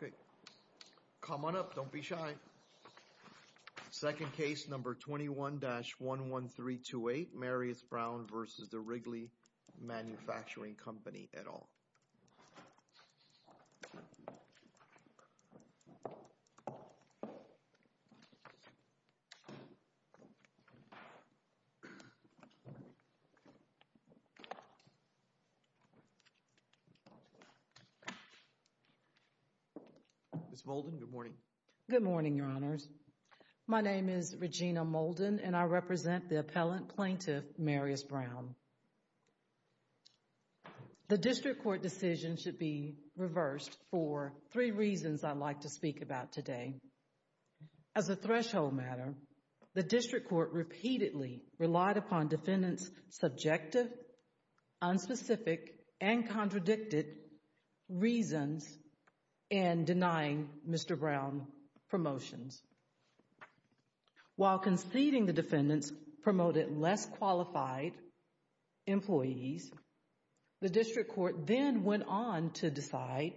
Okay, come on up. Don't be shy. Second case number 21-11328, Marius Brown versus the Wrigley Manufacturing Company et al. Ms. Molden, good morning. Good morning, Your Honors. My name is Regina Molden, and I represent the appellant plaintiff, Marius Brown. The district court decision should be reversed for three reasons I'd like to speak about today. As a threshold matter, the district court repeatedly relied upon defendants' subjective, unspecific, and While conceding the defendants promoted less qualified employees, the district court then went on to decide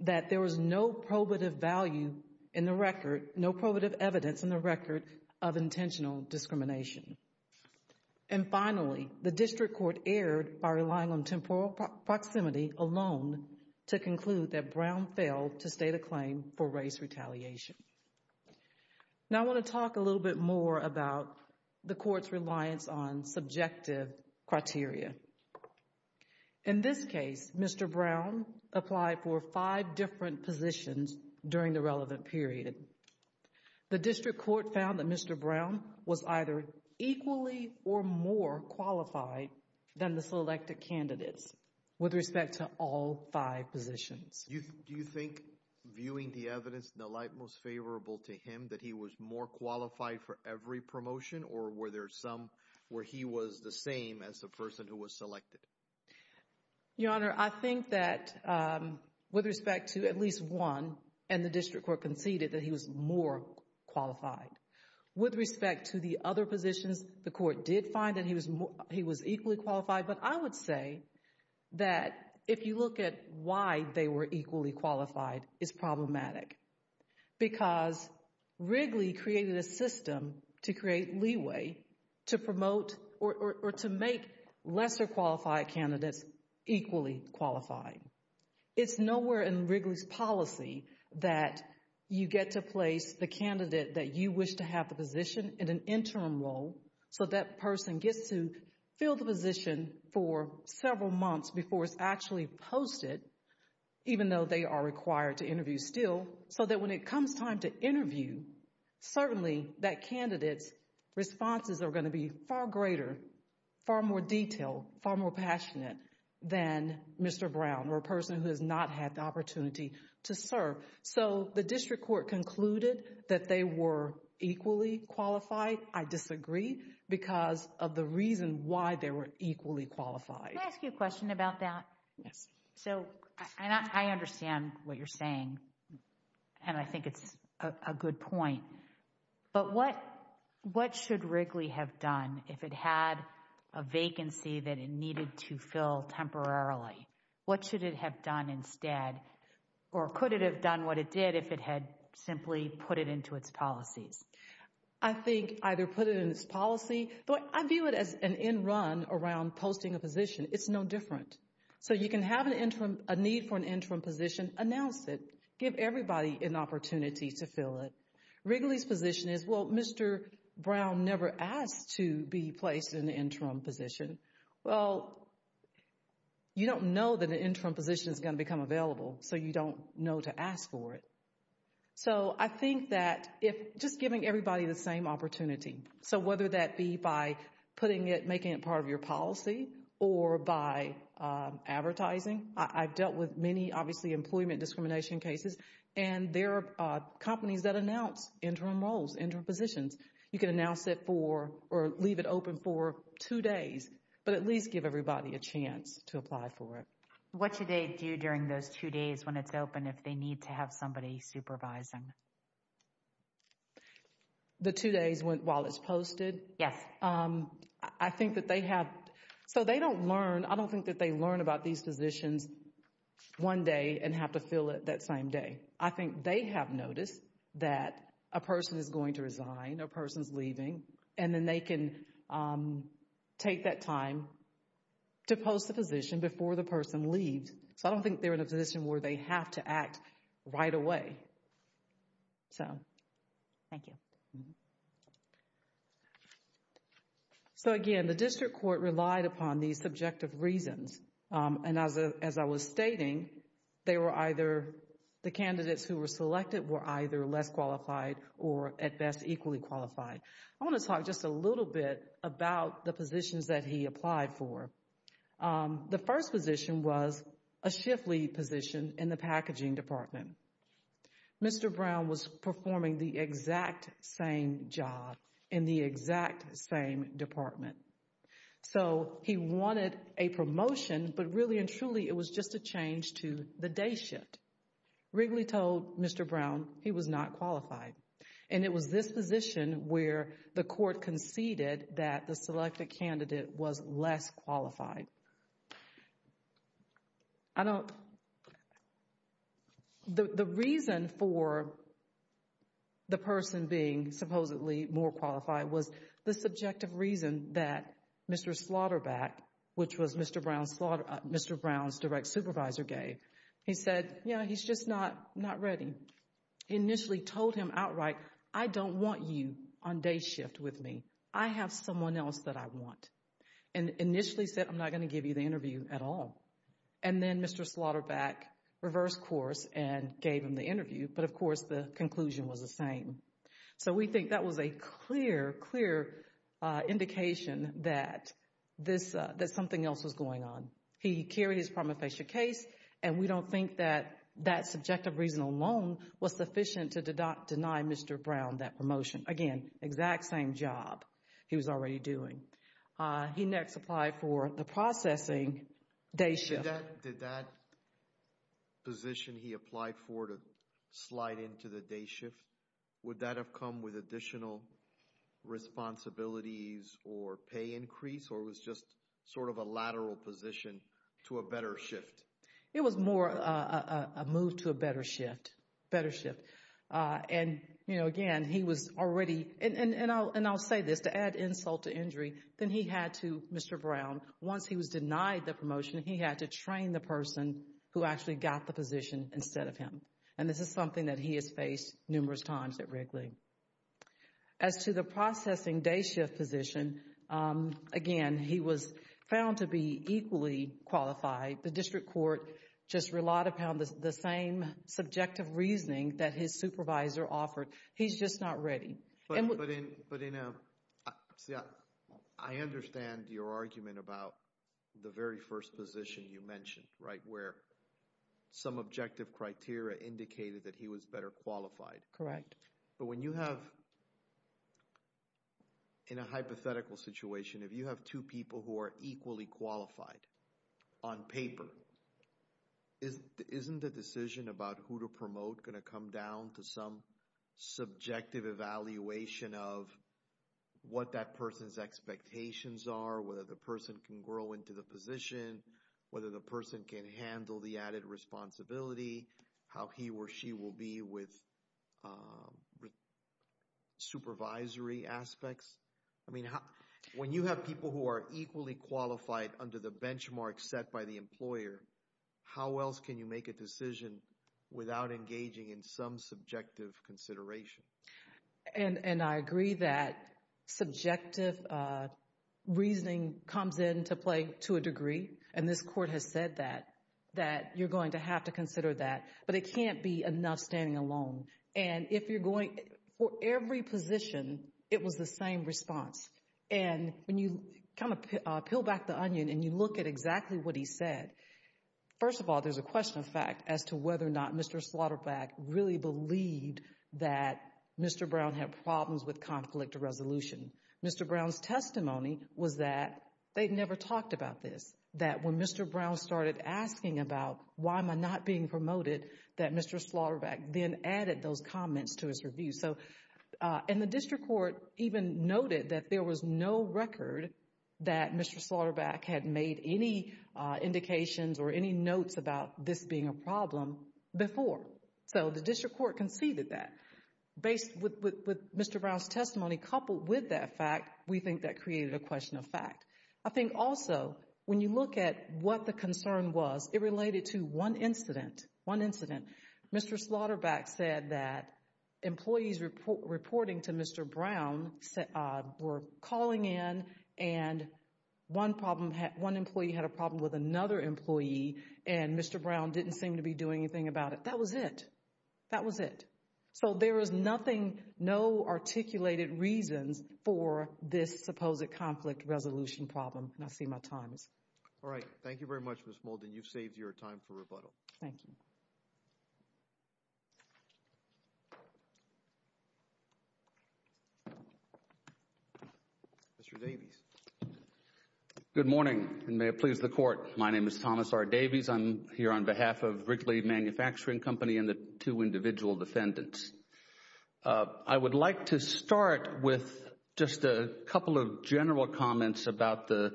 that there was no probative value in the record, no probative evidence in the record of intentional discrimination. And finally, the district court erred by relying on temporal proximity alone to conclude that Brown failed to state a claim for race retaliation. Now I want to talk a little bit more about the court's reliance on subjective criteria. In this case, Mr. Brown applied for five different positions during the relevant period. The district court found that Mr. Brown was either equally or more qualified than the selected candidates with respect to all five positions. Do you think viewing the evidence in the light most favorable to him that he was more qualified for every promotion or were there some where he was the same as the person who was selected? Your Honor, I think that with respect to at least one, and the district court conceded that he was more qualified. With respect to the other positions, the court did find that he was equally qualified, but I would say that if you look at why they were equally qualified, it's problematic. Because Wrigley created a system to create leeway to promote or to make lesser qualified candidates equally qualified. It's nowhere in Wrigley's policy that you get to place the candidate that you wish to have the position in an interim role so that person gets to fill the position for several months before it's actually posted, even though they are required to interview still, so that when it comes time to interview, certainly that candidate's responses are going to be far greater, far more detailed, far more passionate than Mr. Brown or a person who has not had the opportunity to serve. So the district court concluded that they were equally qualified. I disagree because of the reason why they were equally qualified. Can I ask you a question about that? Yes. So I understand what you're saying, and I think it's a good point, but what should Wrigley have done if it had a vacancy that it needed to fill temporarily? What should it have done instead, or could it have done what it did if it had simply put it into its policies? I think either put it in its policy, but I view it as an end run around posting a position. It's no different. So you can have a need for an interim position, announce it, give everybody an opportunity to fill it. Wrigley's position is, well, Mr. Brown never asked to be placed in the interim position. Well, you don't know that the interim position is going to become available, so you don't know to ask for it. So I think that if just giving everybody the same opportunity, so whether that be by putting it, making it part of your policy or by advertising. I've dealt with many, obviously, employment discrimination cases, and there are companies that announce interim roles, interim positions. You can announce it for, or leave it open for two days, but at least give everybody a chance to apply for it. What should they do during those two days when it's open if they need to have somebody supervising? The two days while it's posted? Yes. I think that they have, so they don't learn, I don't think that they learn about these positions one day and have to fill it that same day. I think they have noticed that a person is going to leave, so I don't think they're in a position where they have to act right away. So. Thank you. So again, the district court relied upon these subjective reasons, and as I was stating, they were either, the candidates who were selected were either less qualified or at best equally qualified. I want to talk just a little bit about the positions that he applied for. The first position was a shift lead position in the packaging department. Mr. Brown was performing the exact same job in the exact same department, so he wanted a promotion, but really and truly it was just a change to the day shift. Wrigley told Mr. Brown he was not qualified, and it was this position where the court conceded that the selected candidate was less qualified. I don't, the reason for the person being supposedly more qualified was the subjective reason that Mr. Slaughterback, which was Mr. Brown's direct supervisor gave, he said, you know, he's just not ready. He initially told him outright, I don't want you on day shift with me. I have someone else that I want, and initially said, I'm not going to give you the interview at all, and then Mr. Slaughterback reversed course and gave him the interview, but of course the conclusion was the same. So we think that was a clear, clear indication that this, that something else was going on. He carried his prima facie case, and we don't think that that subjective reason alone was sufficient to deny Mr. Brown that promotion. Again, exact same job he was already doing. He next applied for the processing day shift. Did that position he applied for to slide into the day shift, would that have come with additional responsibilities or pay increase, or was just sort of a lateral position to a better shift? It was more a move to a better shift, better shift, and you know, again, he was already, and I'll say this, to add insult to injury, then he had to, Mr. Brown, once he was denied the promotion, he had to train the person who actually got the position instead of him, and this is something that he has faced numerous times at Reg League. As to the processing day shift position, again, he was found to be equally qualified. The district court just relied upon the same subjective reasoning that his supervisor offered. He's just not ready. But in a, I understand your argument about the very first position you mentioned, right, where some objective criteria indicated that he was better qualified. Correct. But when you have, in a hypothetical situation, if you have two people who are equally qualified on paper, isn't the decision about who to promote going to come down to some subjective evaluation of what that person's expectations are, whether the person can grow into the position, whether the person can handle the added responsibility, how he or she will be with supervisory aspects? I mean, when you have people who are equally qualified under the benchmark set by the employer, how else can you make a decision without engaging in some subjective consideration? And I agree that subjective reasoning comes into play to a degree, and this court has said that, that you're going to have to consider that, but it can't be enough standing alone. And if you're going, for every position, it was the same response. And when you kind of peel back the onion and you look at exactly what he said, first of all, there's a question of fact as to whether or not Mr. Slaughterback really believed that Mr. Brown had problems with conflict of resolution. Mr. Brown's testimony was that they'd never talked about this, that when Mr. Brown started asking about why am I not being promoted, that Mr. Slaughterback then added those comments to his review. And the district court even noted that there was no record that Mr. Slaughterback had made any indications or any notes about this being a problem before. So the district court conceded that. With Mr. Brown's testimony coupled with that fact, we think that what the concern was, it related to one incident, one incident. Mr. Slaughterback said that employees reporting to Mr. Brown were calling in and one problem, one employee had a problem with another employee, and Mr. Brown didn't seem to be doing anything about it. That was it. That was it. So there is nothing, no articulated reasons for this supposed conflict resolution problem, and I see my time is up. All right. Thank you very much, Ms. Molden. You've saved your time for rebuttal. Thank you. Mr. Davies. Good morning, and may it please the Court. My name is Thomas R. Davies. I'm here on behalf of Wrigley Manufacturing Company and the two individual defendants. I would like to start with just a couple of general comments about the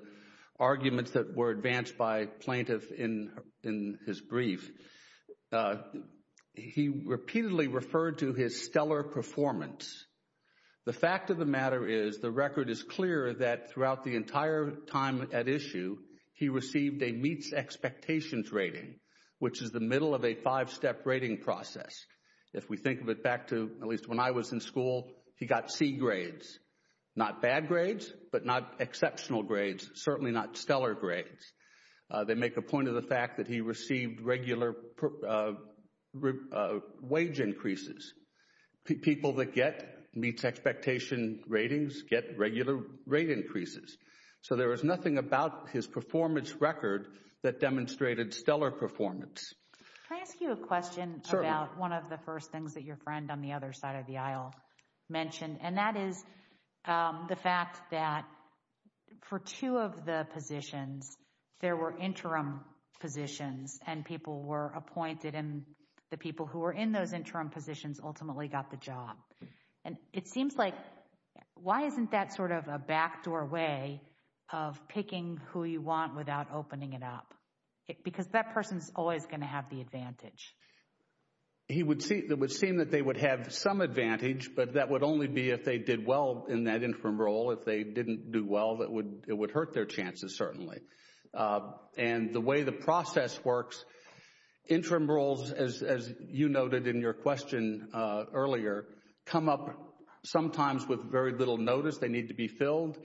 arguments that were advanced by plaintiff in in his brief. He repeatedly referred to his stellar performance. The fact of the matter is the record is clear that throughout the entire time at issue, he received a meets expectations rating, which is the middle of a five-step rating process. If we think of it back to at least when I was in school, he got C grades, not bad grades, but not exceptional grades, certainly not stellar grades. They make a point of the fact that he received regular wage increases. People that get meets expectation ratings get regular rate increases. So there is nothing about his performance record that demonstrated stellar performance. Can I ask you a question about one of the first things that your friend on the other side of the aisle mentioned, and that is the fact that for two of the positions, there were interim positions, and people were appointed, and the people who were in those interim positions ultimately got the job. And it seems like, why isn't that sort of a backdoor way of picking who you want without opening it up? Because that person is always going to have the advantage. It would seem that they would have some advantage, but that would only be if they did well in that interim role. If they didn't do well, it would hurt their chances, certainly. And the way the process works, interim roles, as you noted in your question earlier, come up sometimes with very little notice. They need to be filled.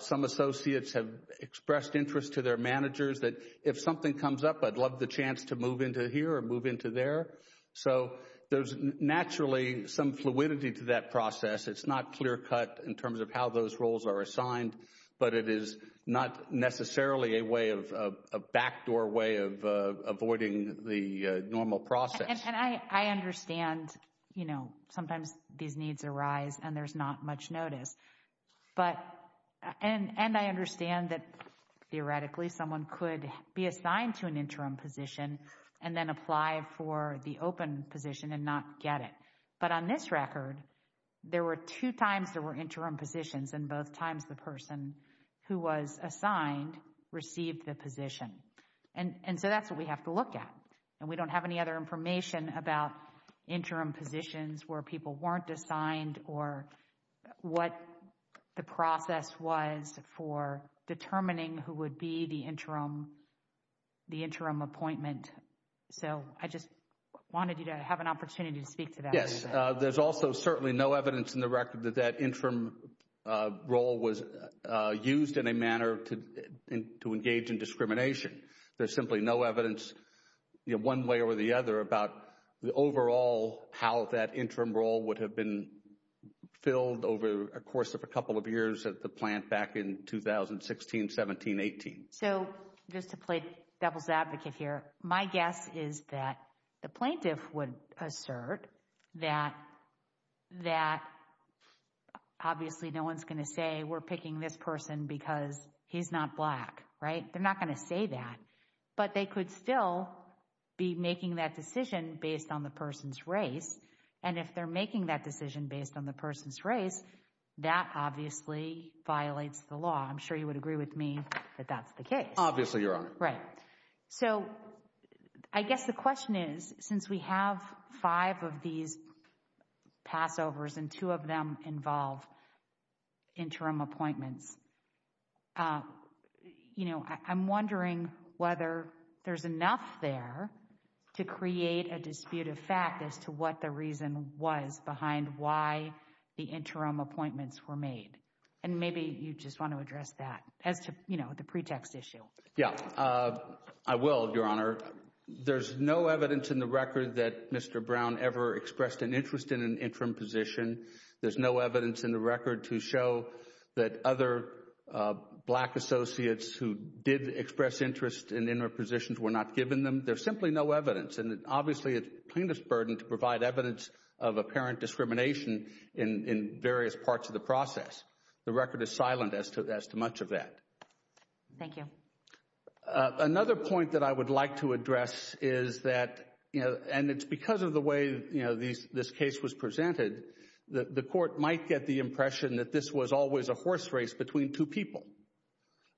Some associates have expressed interest to their managers that if something comes up, I'd love the chance to move into here or move into there. So there's naturally some fluidity to that process. It's not clear-cut in terms of how those roles are assigned, but it is not necessarily a way of, a backdoor way of avoiding the normal process. And I understand, you know, sometimes these needs arise and there's not much notice. But, and I understand that theoretically someone could be assigned to an interim position and then apply for the open position and not get it. But on this record, there were two times there were interim positions and both times the person who was assigned received the position. And so that's what we have to look at. And we don't have any other information about interim positions where people weren't assigned or what the process was for determining who would be the interim, the interim appointment. So I just wanted you to have an opportunity to speak to that. Yes. There's also certainly no evidence in the record that that interim role was used in a manner to engage in discrimination. There's simply no evidence, you know, one way or the other about the overall, how that interim role would have been filled over a course of a couple of years at the plant back in 2016, 17, 18. So just to play devil's advocate here, my guess is that the plaintiff would assert that, that obviously no one's going to say we're picking this person because he's not Black, right? They're not going to say that. But they could still be making that decision based on the person's race. And if they're making that decision based on the person's race, that obviously violates the law. I'm sure you would agree with me that that's the case. Obviously, Your Honor. Right. So I guess the question is, since we have five of these passovers, and two of them involve interim appointments, you know, I'm wondering whether there's enough there to create a dispute of fact as to what the reason was behind why the interim appointments were made. And maybe you just want to address that as to, you know, the pretext issue. Yeah, I will, Your Honor. There's no evidence in the interim position. There's no evidence in the record to show that other Black associates who did express interest in interim positions were not given them. There's simply no evidence. And obviously, it's plaintiff's burden to provide evidence of apparent discrimination in various parts of the process. The record is silent as to much of that. Thank you. Another point that I would like to address is that, you know, and it's because of the way, you know, this case was presented, the Court might get the impression that this was always a horse race between two people.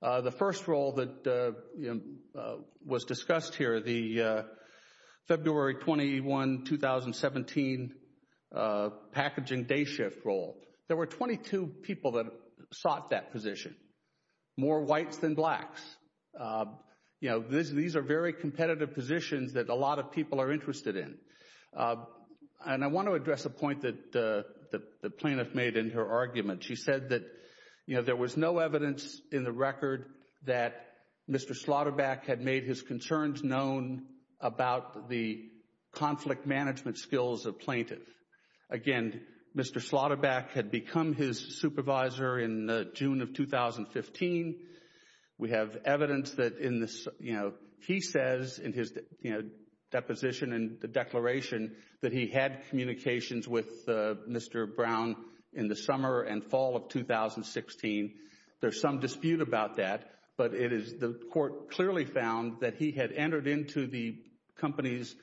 The first role that, you know, was discussed here, the February 21, 2017, packaging day shift role, there were 22 people that sought that position. More whites than Blacks. You know, these are very competitive positions that a lot of people are interested in. And I want to address a point that the plaintiff made in her argument. She said that, you know, there was no evidence in the record that Mr. Slaughterback had made his concerns known about the conflict management skills of plaintiff. Again, Mr. Slaughterback had become his supervisor in June of 2015. We have evidence that in this, you know, he says in his, you know, deposition and the declaration that he had communications with Mr. Brown in the summer and fall of 2016. There's some dispute about that, but it is the Court clearly found that he had entered into the company's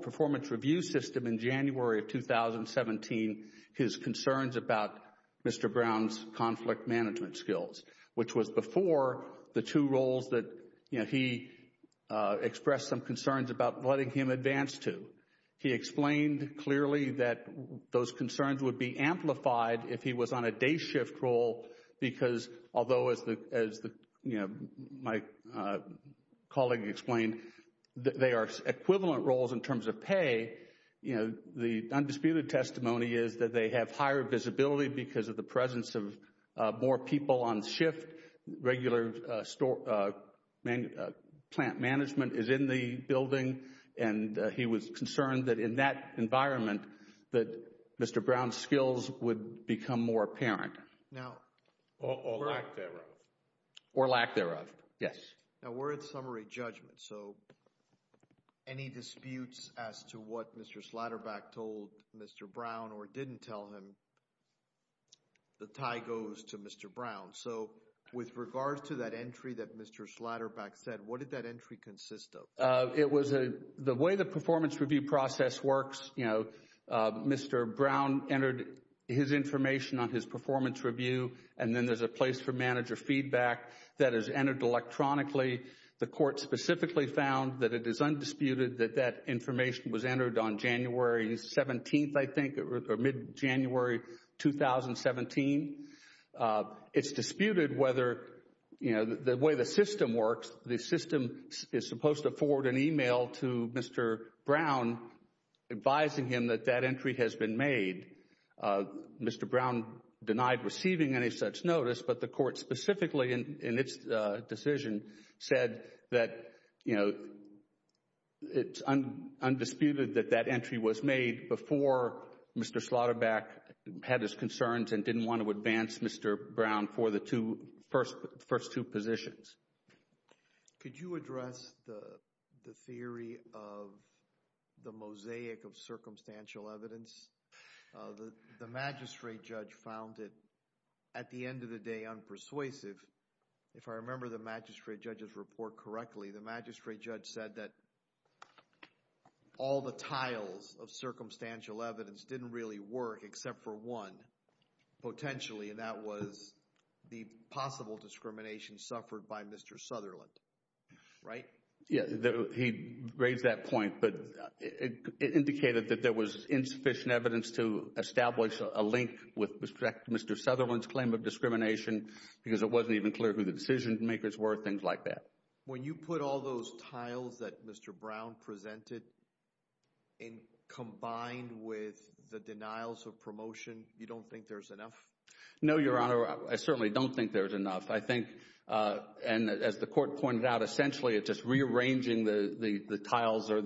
performance review system in January of 2017. His concerns about Mr. Brown's conflict management skills, which was before the two roles that, you know, he expressed some concerns about letting him advance to. He explained clearly that those concerns would be amplified if he was on a day shift role because, although as the, you know, my colleague explained, they are equivalent roles in terms of pay. You know, the undisputed testimony is that they have higher visibility because of the presence of more people on shift, regular plant management is in the building, and he was concerned that in that environment that Mr. Brown's skills would become more apparent. Now, or lack thereof. Or lack thereof, yes. Now, we're at summary judgment, so any disputes as to what Mr. Slaughterback told Mr. Brown or didn't tell him, the tie goes to Mr. Brown. So, with regards to that entry that Mr. Slaughterback said, what did that entry consist of? It was a, the way the performance review process works, you know, Mr. Brown entered his information on his performance review, and then there's a place for manager feedback that is entered electronically. The Court specifically found that it is undisputed that that information was entered on January 17th, I think, or mid-January 2017. It's disputed whether, you know, the way the system works, the system is supposed to forward an email to Mr. Brown advising him that that entry has been made. Mr. Brown denied receiving any such said that, you know, it's undisputed that that entry was made before Mr. Slaughterback had his concerns and didn't want to advance Mr. Brown for the two, first two positions. Could you address the theory of the mosaic of circumstantial evidence? The magistrate judge found it, at the end of the day, unpersuasive. If I remember the magistrate judge's report correctly, the magistrate judge said that all the tiles of circumstantial evidence didn't really work except for one, potentially, and that was the possible discrimination suffered by Mr. Sutherland, right? Yeah, he raised that point, but it indicated that there was insufficient evidence to establish a link with respect to Mr. Sutherland's claim of discrimination because it wasn't even clear who the decision makers were, things like that. When you put all those tiles that Mr. Brown presented in combined with the denials of promotion, you don't think there's enough? No, Your Honor, I certainly don't think there's enough. I think, and as the court pointed out, essentially it's just rearranging the tiles or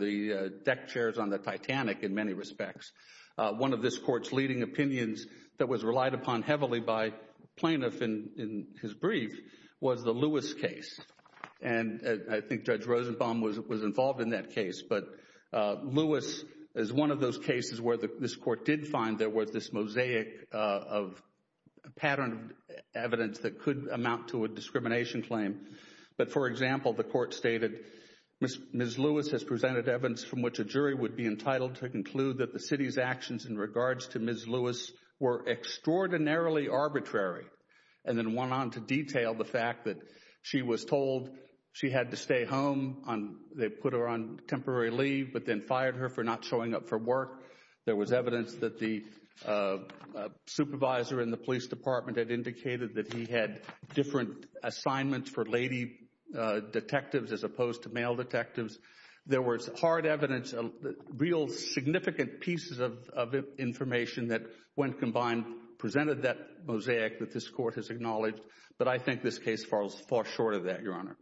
deck chairs on the Titanic, in many respects. One of this court's leading opinions that was relied upon heavily by plaintiffs in his brief was the Lewis case, and I think Judge Rosenbaum was involved in that case, but Lewis is one of those cases where this court did find there was this mosaic of patterned evidence that could amount to a discrimination claim, but, for example, the court stated, Ms. Lewis has presented evidence from which a jury would be entitled to conclude that the city's actions in regards to Ms. Lewis were extraordinarily arbitrary, and then went on to detail the fact that she was told she had to stay home. They put her on temporary leave, but then fired her for not showing up for work. There was evidence that the supervisor in the police department had indicated that he had different assignments for lady detectives as opposed to male detectives. There was hard evidence, real significant pieces of information that, when combined, presented that mosaic that this court has acknowledged, but I think this case falls far short of that, Your Honor.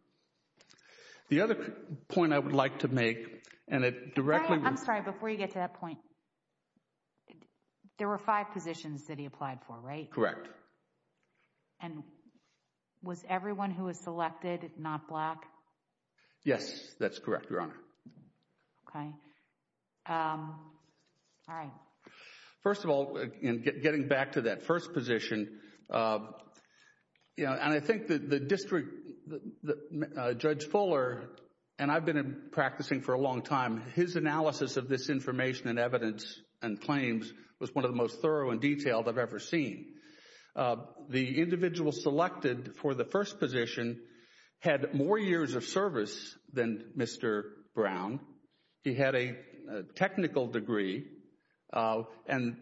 The other point I would like to make, and it directly... I'm sorry, before you get to that point, there were five positions that he applied for, right? Correct. And was everyone who was not black? Yes, that's correct, Your Honor. Okay. All right. First of all, in getting back to that first position, and I think the district, Judge Fuller, and I've been practicing for a long time, his analysis of this information and evidence and claims was one of the most thorough and detailed I've ever seen. The individual selected for the first position had more years of service than Mr. Brown. He had a technical degree, and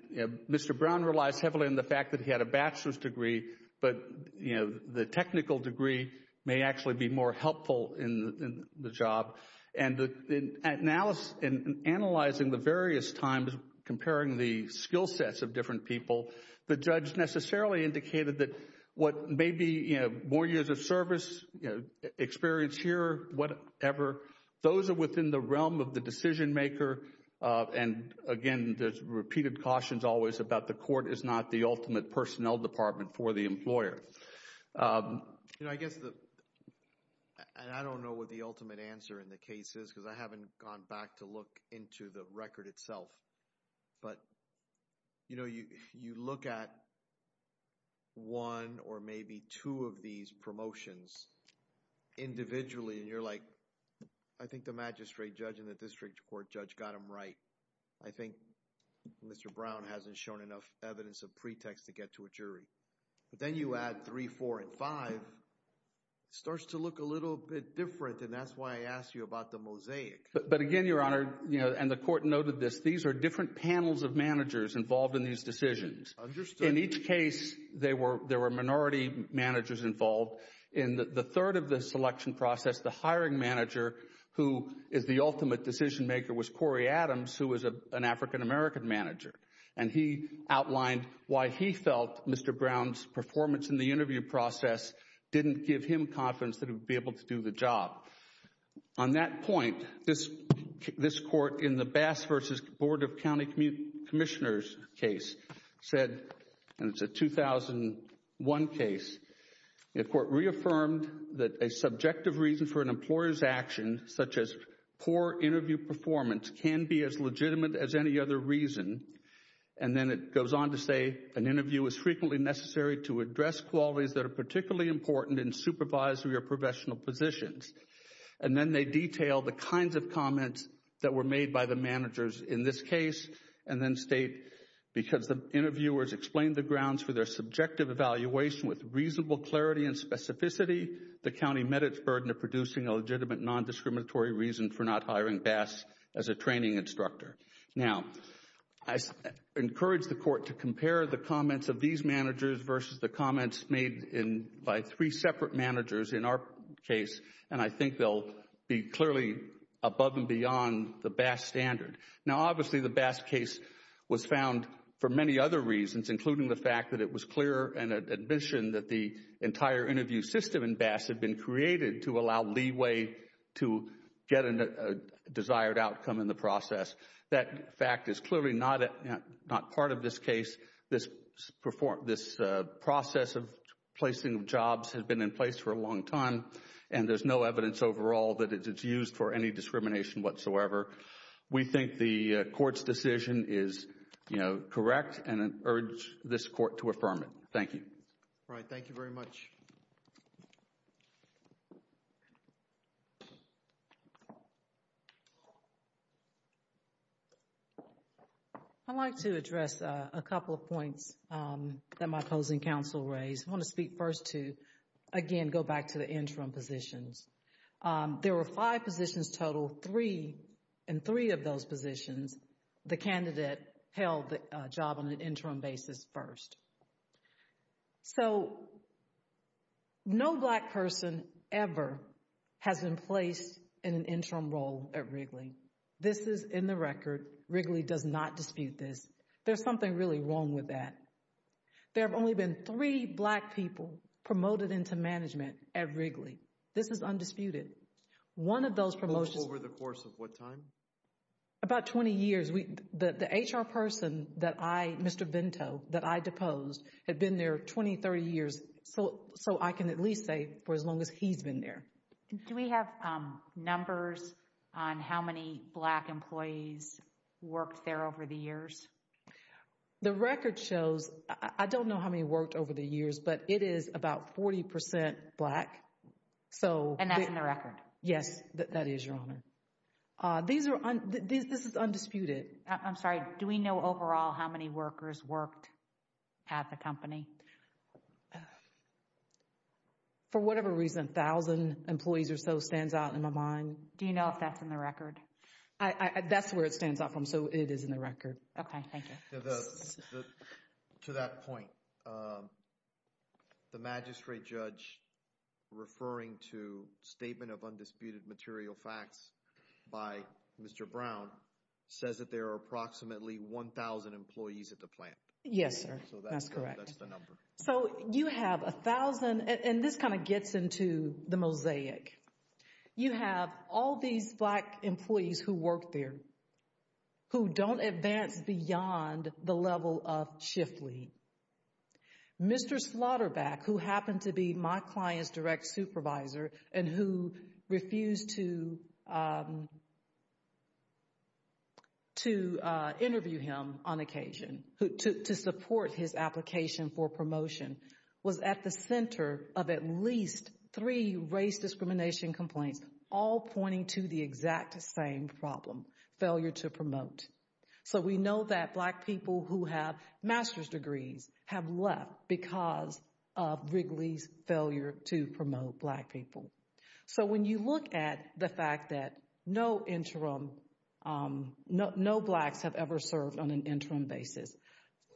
Mr. Brown relies heavily on the fact that he had a bachelor's degree, but, you know, the technical degree may actually be more helpful in the job. And in analyzing the various times, comparing the skill sets of different people, the judge necessarily indicated that what may be, you know, more years of service, experience here, whatever, those are within the realm of the decision maker, and, again, there's repeated cautions always about the court is not the ultimate personnel department for the ultimate answer in the case is because I haven't gone back to look into the record itself. But, you know, you look at one or maybe two of these promotions individually, and you're like, I think the magistrate judge in the district court judge got him right. I think Mr. Brown hasn't shown enough evidence of pretext to get to a jury. But then you add three, four, and five, it starts to look a little bit different, and that's why I asked you about the mosaic. But, again, Your Honor, you know, and the court noted this, these are different panels of managers involved in these decisions. In each case, there were minority managers involved. In the third of the selection process, the hiring manager who is the ultimate decision maker was Corey Adams, who was an African American manager, and he outlined why he felt Mr. Brown's performance in the interview process didn't give him confidence that he would be able to do the job. On that point, this court in the Bass v. Board of County Commissioners case said, and it's a 2001 case, the court reaffirmed that a subjective reason for an employer's action, such as poor interview performance, can be as legitimate as any other reason. And then it goes on to say, an interview is frequently necessary to address qualities that are particularly important in supervisory or professional positions. And then they detail the kinds of comments that were made by the managers in this case, and then state, because the interviewers explained the grounds for their subjective evaluation with reasonable clarity and specificity, the county met its burden of producing a legitimate non-discriminatory reason for not hiring Bass as a training instructor. Now, I encourage the court to compare the comments of these managers versus the comments made by three separate managers in our case, and I think they'll be clearly above and beyond the Bass standard. Now, obviously, the Bass case was found for many other reasons, including the fact that it was clear and admission that the entire interview system in Bass had been created to allow leeway to get a desired outcome in the process. That fact is clearly not part of this case. This process of placing jobs has been in place for a long time, and there's no evidence overall that it's used for any discrimination whatsoever. We think the court's decision is, you know, correct, and urge this court to affirm it. Thank you. All right. Thank you very much. I'd like to address a couple of points that my opposing counsel raised. I want to speak first to, again, go back to the interim positions. There were five positions total. Three, in three of those positions, the candidate held the job on an interim basis first. So, no Black person ever has been placed in an interim role at Wrigley. This is in the record. Wrigley does not dispute this. There's something really wrong with that. There have only been three Black people promoted into management at Wrigley. This is undisputed. One of those promotions... Over the course of what time? About 20 years. The HR person that I, Mr. Bento, that I deposed had been there 20, 30 years, so I can at least say for as long as he's been there. Do we have numbers on how many Black employees worked there over the years? The record shows, I don't know how many worked over the years, but it is about 40 percent Black. So... And that's in the record? Yes, that is, Your Honor. This is undisputed. I'm sorry, do we know overall how many workers worked at the company? For whatever reason, a thousand employees or so stands out in my mind. Do you know if that's in the record? That's where it stands out from, so it is in the record. Okay, thank you. To that point, the magistrate judge referring to statement of undisputed material facts by Mr. Brown says that there are approximately 1,000 employees at the plant. Yes, sir, that's correct. So that's the number. So you have a thousand, and this kind of gets into the mosaic. You have all these Black employees who work there who don't advance beyond the level of Chifley. Mr. Slaughterback, who happened to be my client's direct supervisor and who refused to interview him on occasion to support his application for promotion, was at the center of at least three race discrimination complaints, all pointing to the exact same problem, failure to promote. So we know that Black people who have master's degrees have left because of Wrigley's failure to promote Black people. So when you look at the fact that no Blacks have ever served on an interim basis,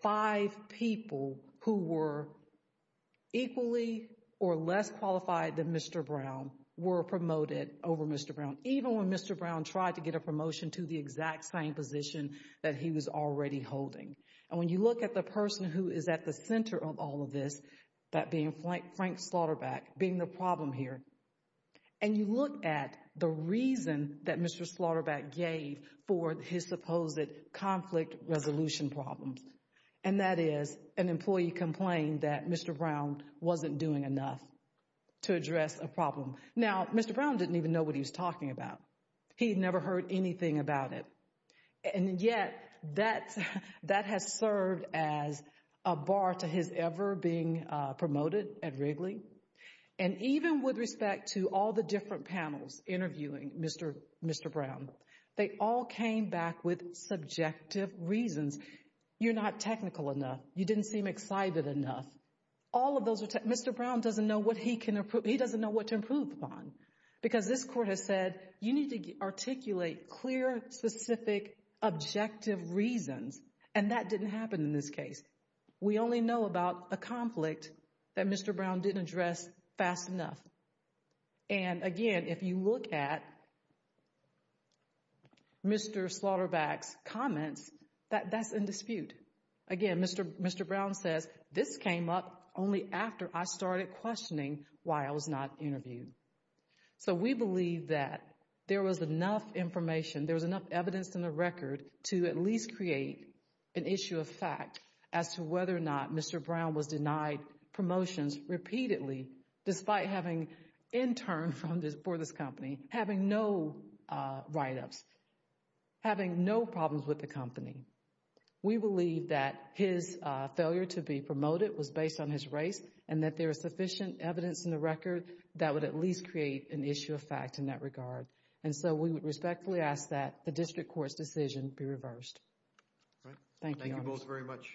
five people who were equally or less qualified than Mr. Brown were promoted over Mr. Brown, even when Mr. Brown tried to get a promotion to the exact same position that he was already holding. And when you look at the person who is at the center of all of this, that being Frank Slaughterback, being the problem here, and you look at the reason that Mr. Slaughterback gave for his supposed conflict resolution problem, and that is an employee complained that Mr. Brown wasn't doing enough to address a problem. Now, Mr. Brown didn't even know what he was talking about. He had never heard anything about it. And yet, that has served as a bar to his ever being promoted at Wrigley. And even with respect to all the different panels interviewing Mr. Brown, they all came back with subjective reasons. You're not technical enough. You didn't seem excited enough. All of those are... Mr. Brown doesn't know what he can improve. He doesn't know what to improve upon. Because this court has said, you need to articulate clear, specific, objective reasons. And that didn't happen in this case. We only know about a conflict that Mr. Brown didn't address fast enough. And again, if you look at Mr. Slaughterback's comments, that's in dispute. Again, Mr. Brown says, this came up only after I started questioning why I was not interviewed. So we believe that there was enough information, there was enough evidence in the record to at least create an issue of fact as to whether or not Mr. Brown was denied promotions repeatedly despite having interned for this company, having no write-ups, having no problems with the company. We believe that his failure to be promoted was based on his race and that there is sufficient evidence in the record that would at least create an issue of fact in that regard. And so we would respectfully ask that the district court's decision be reversed. All right. Thank you. Thank you both very much.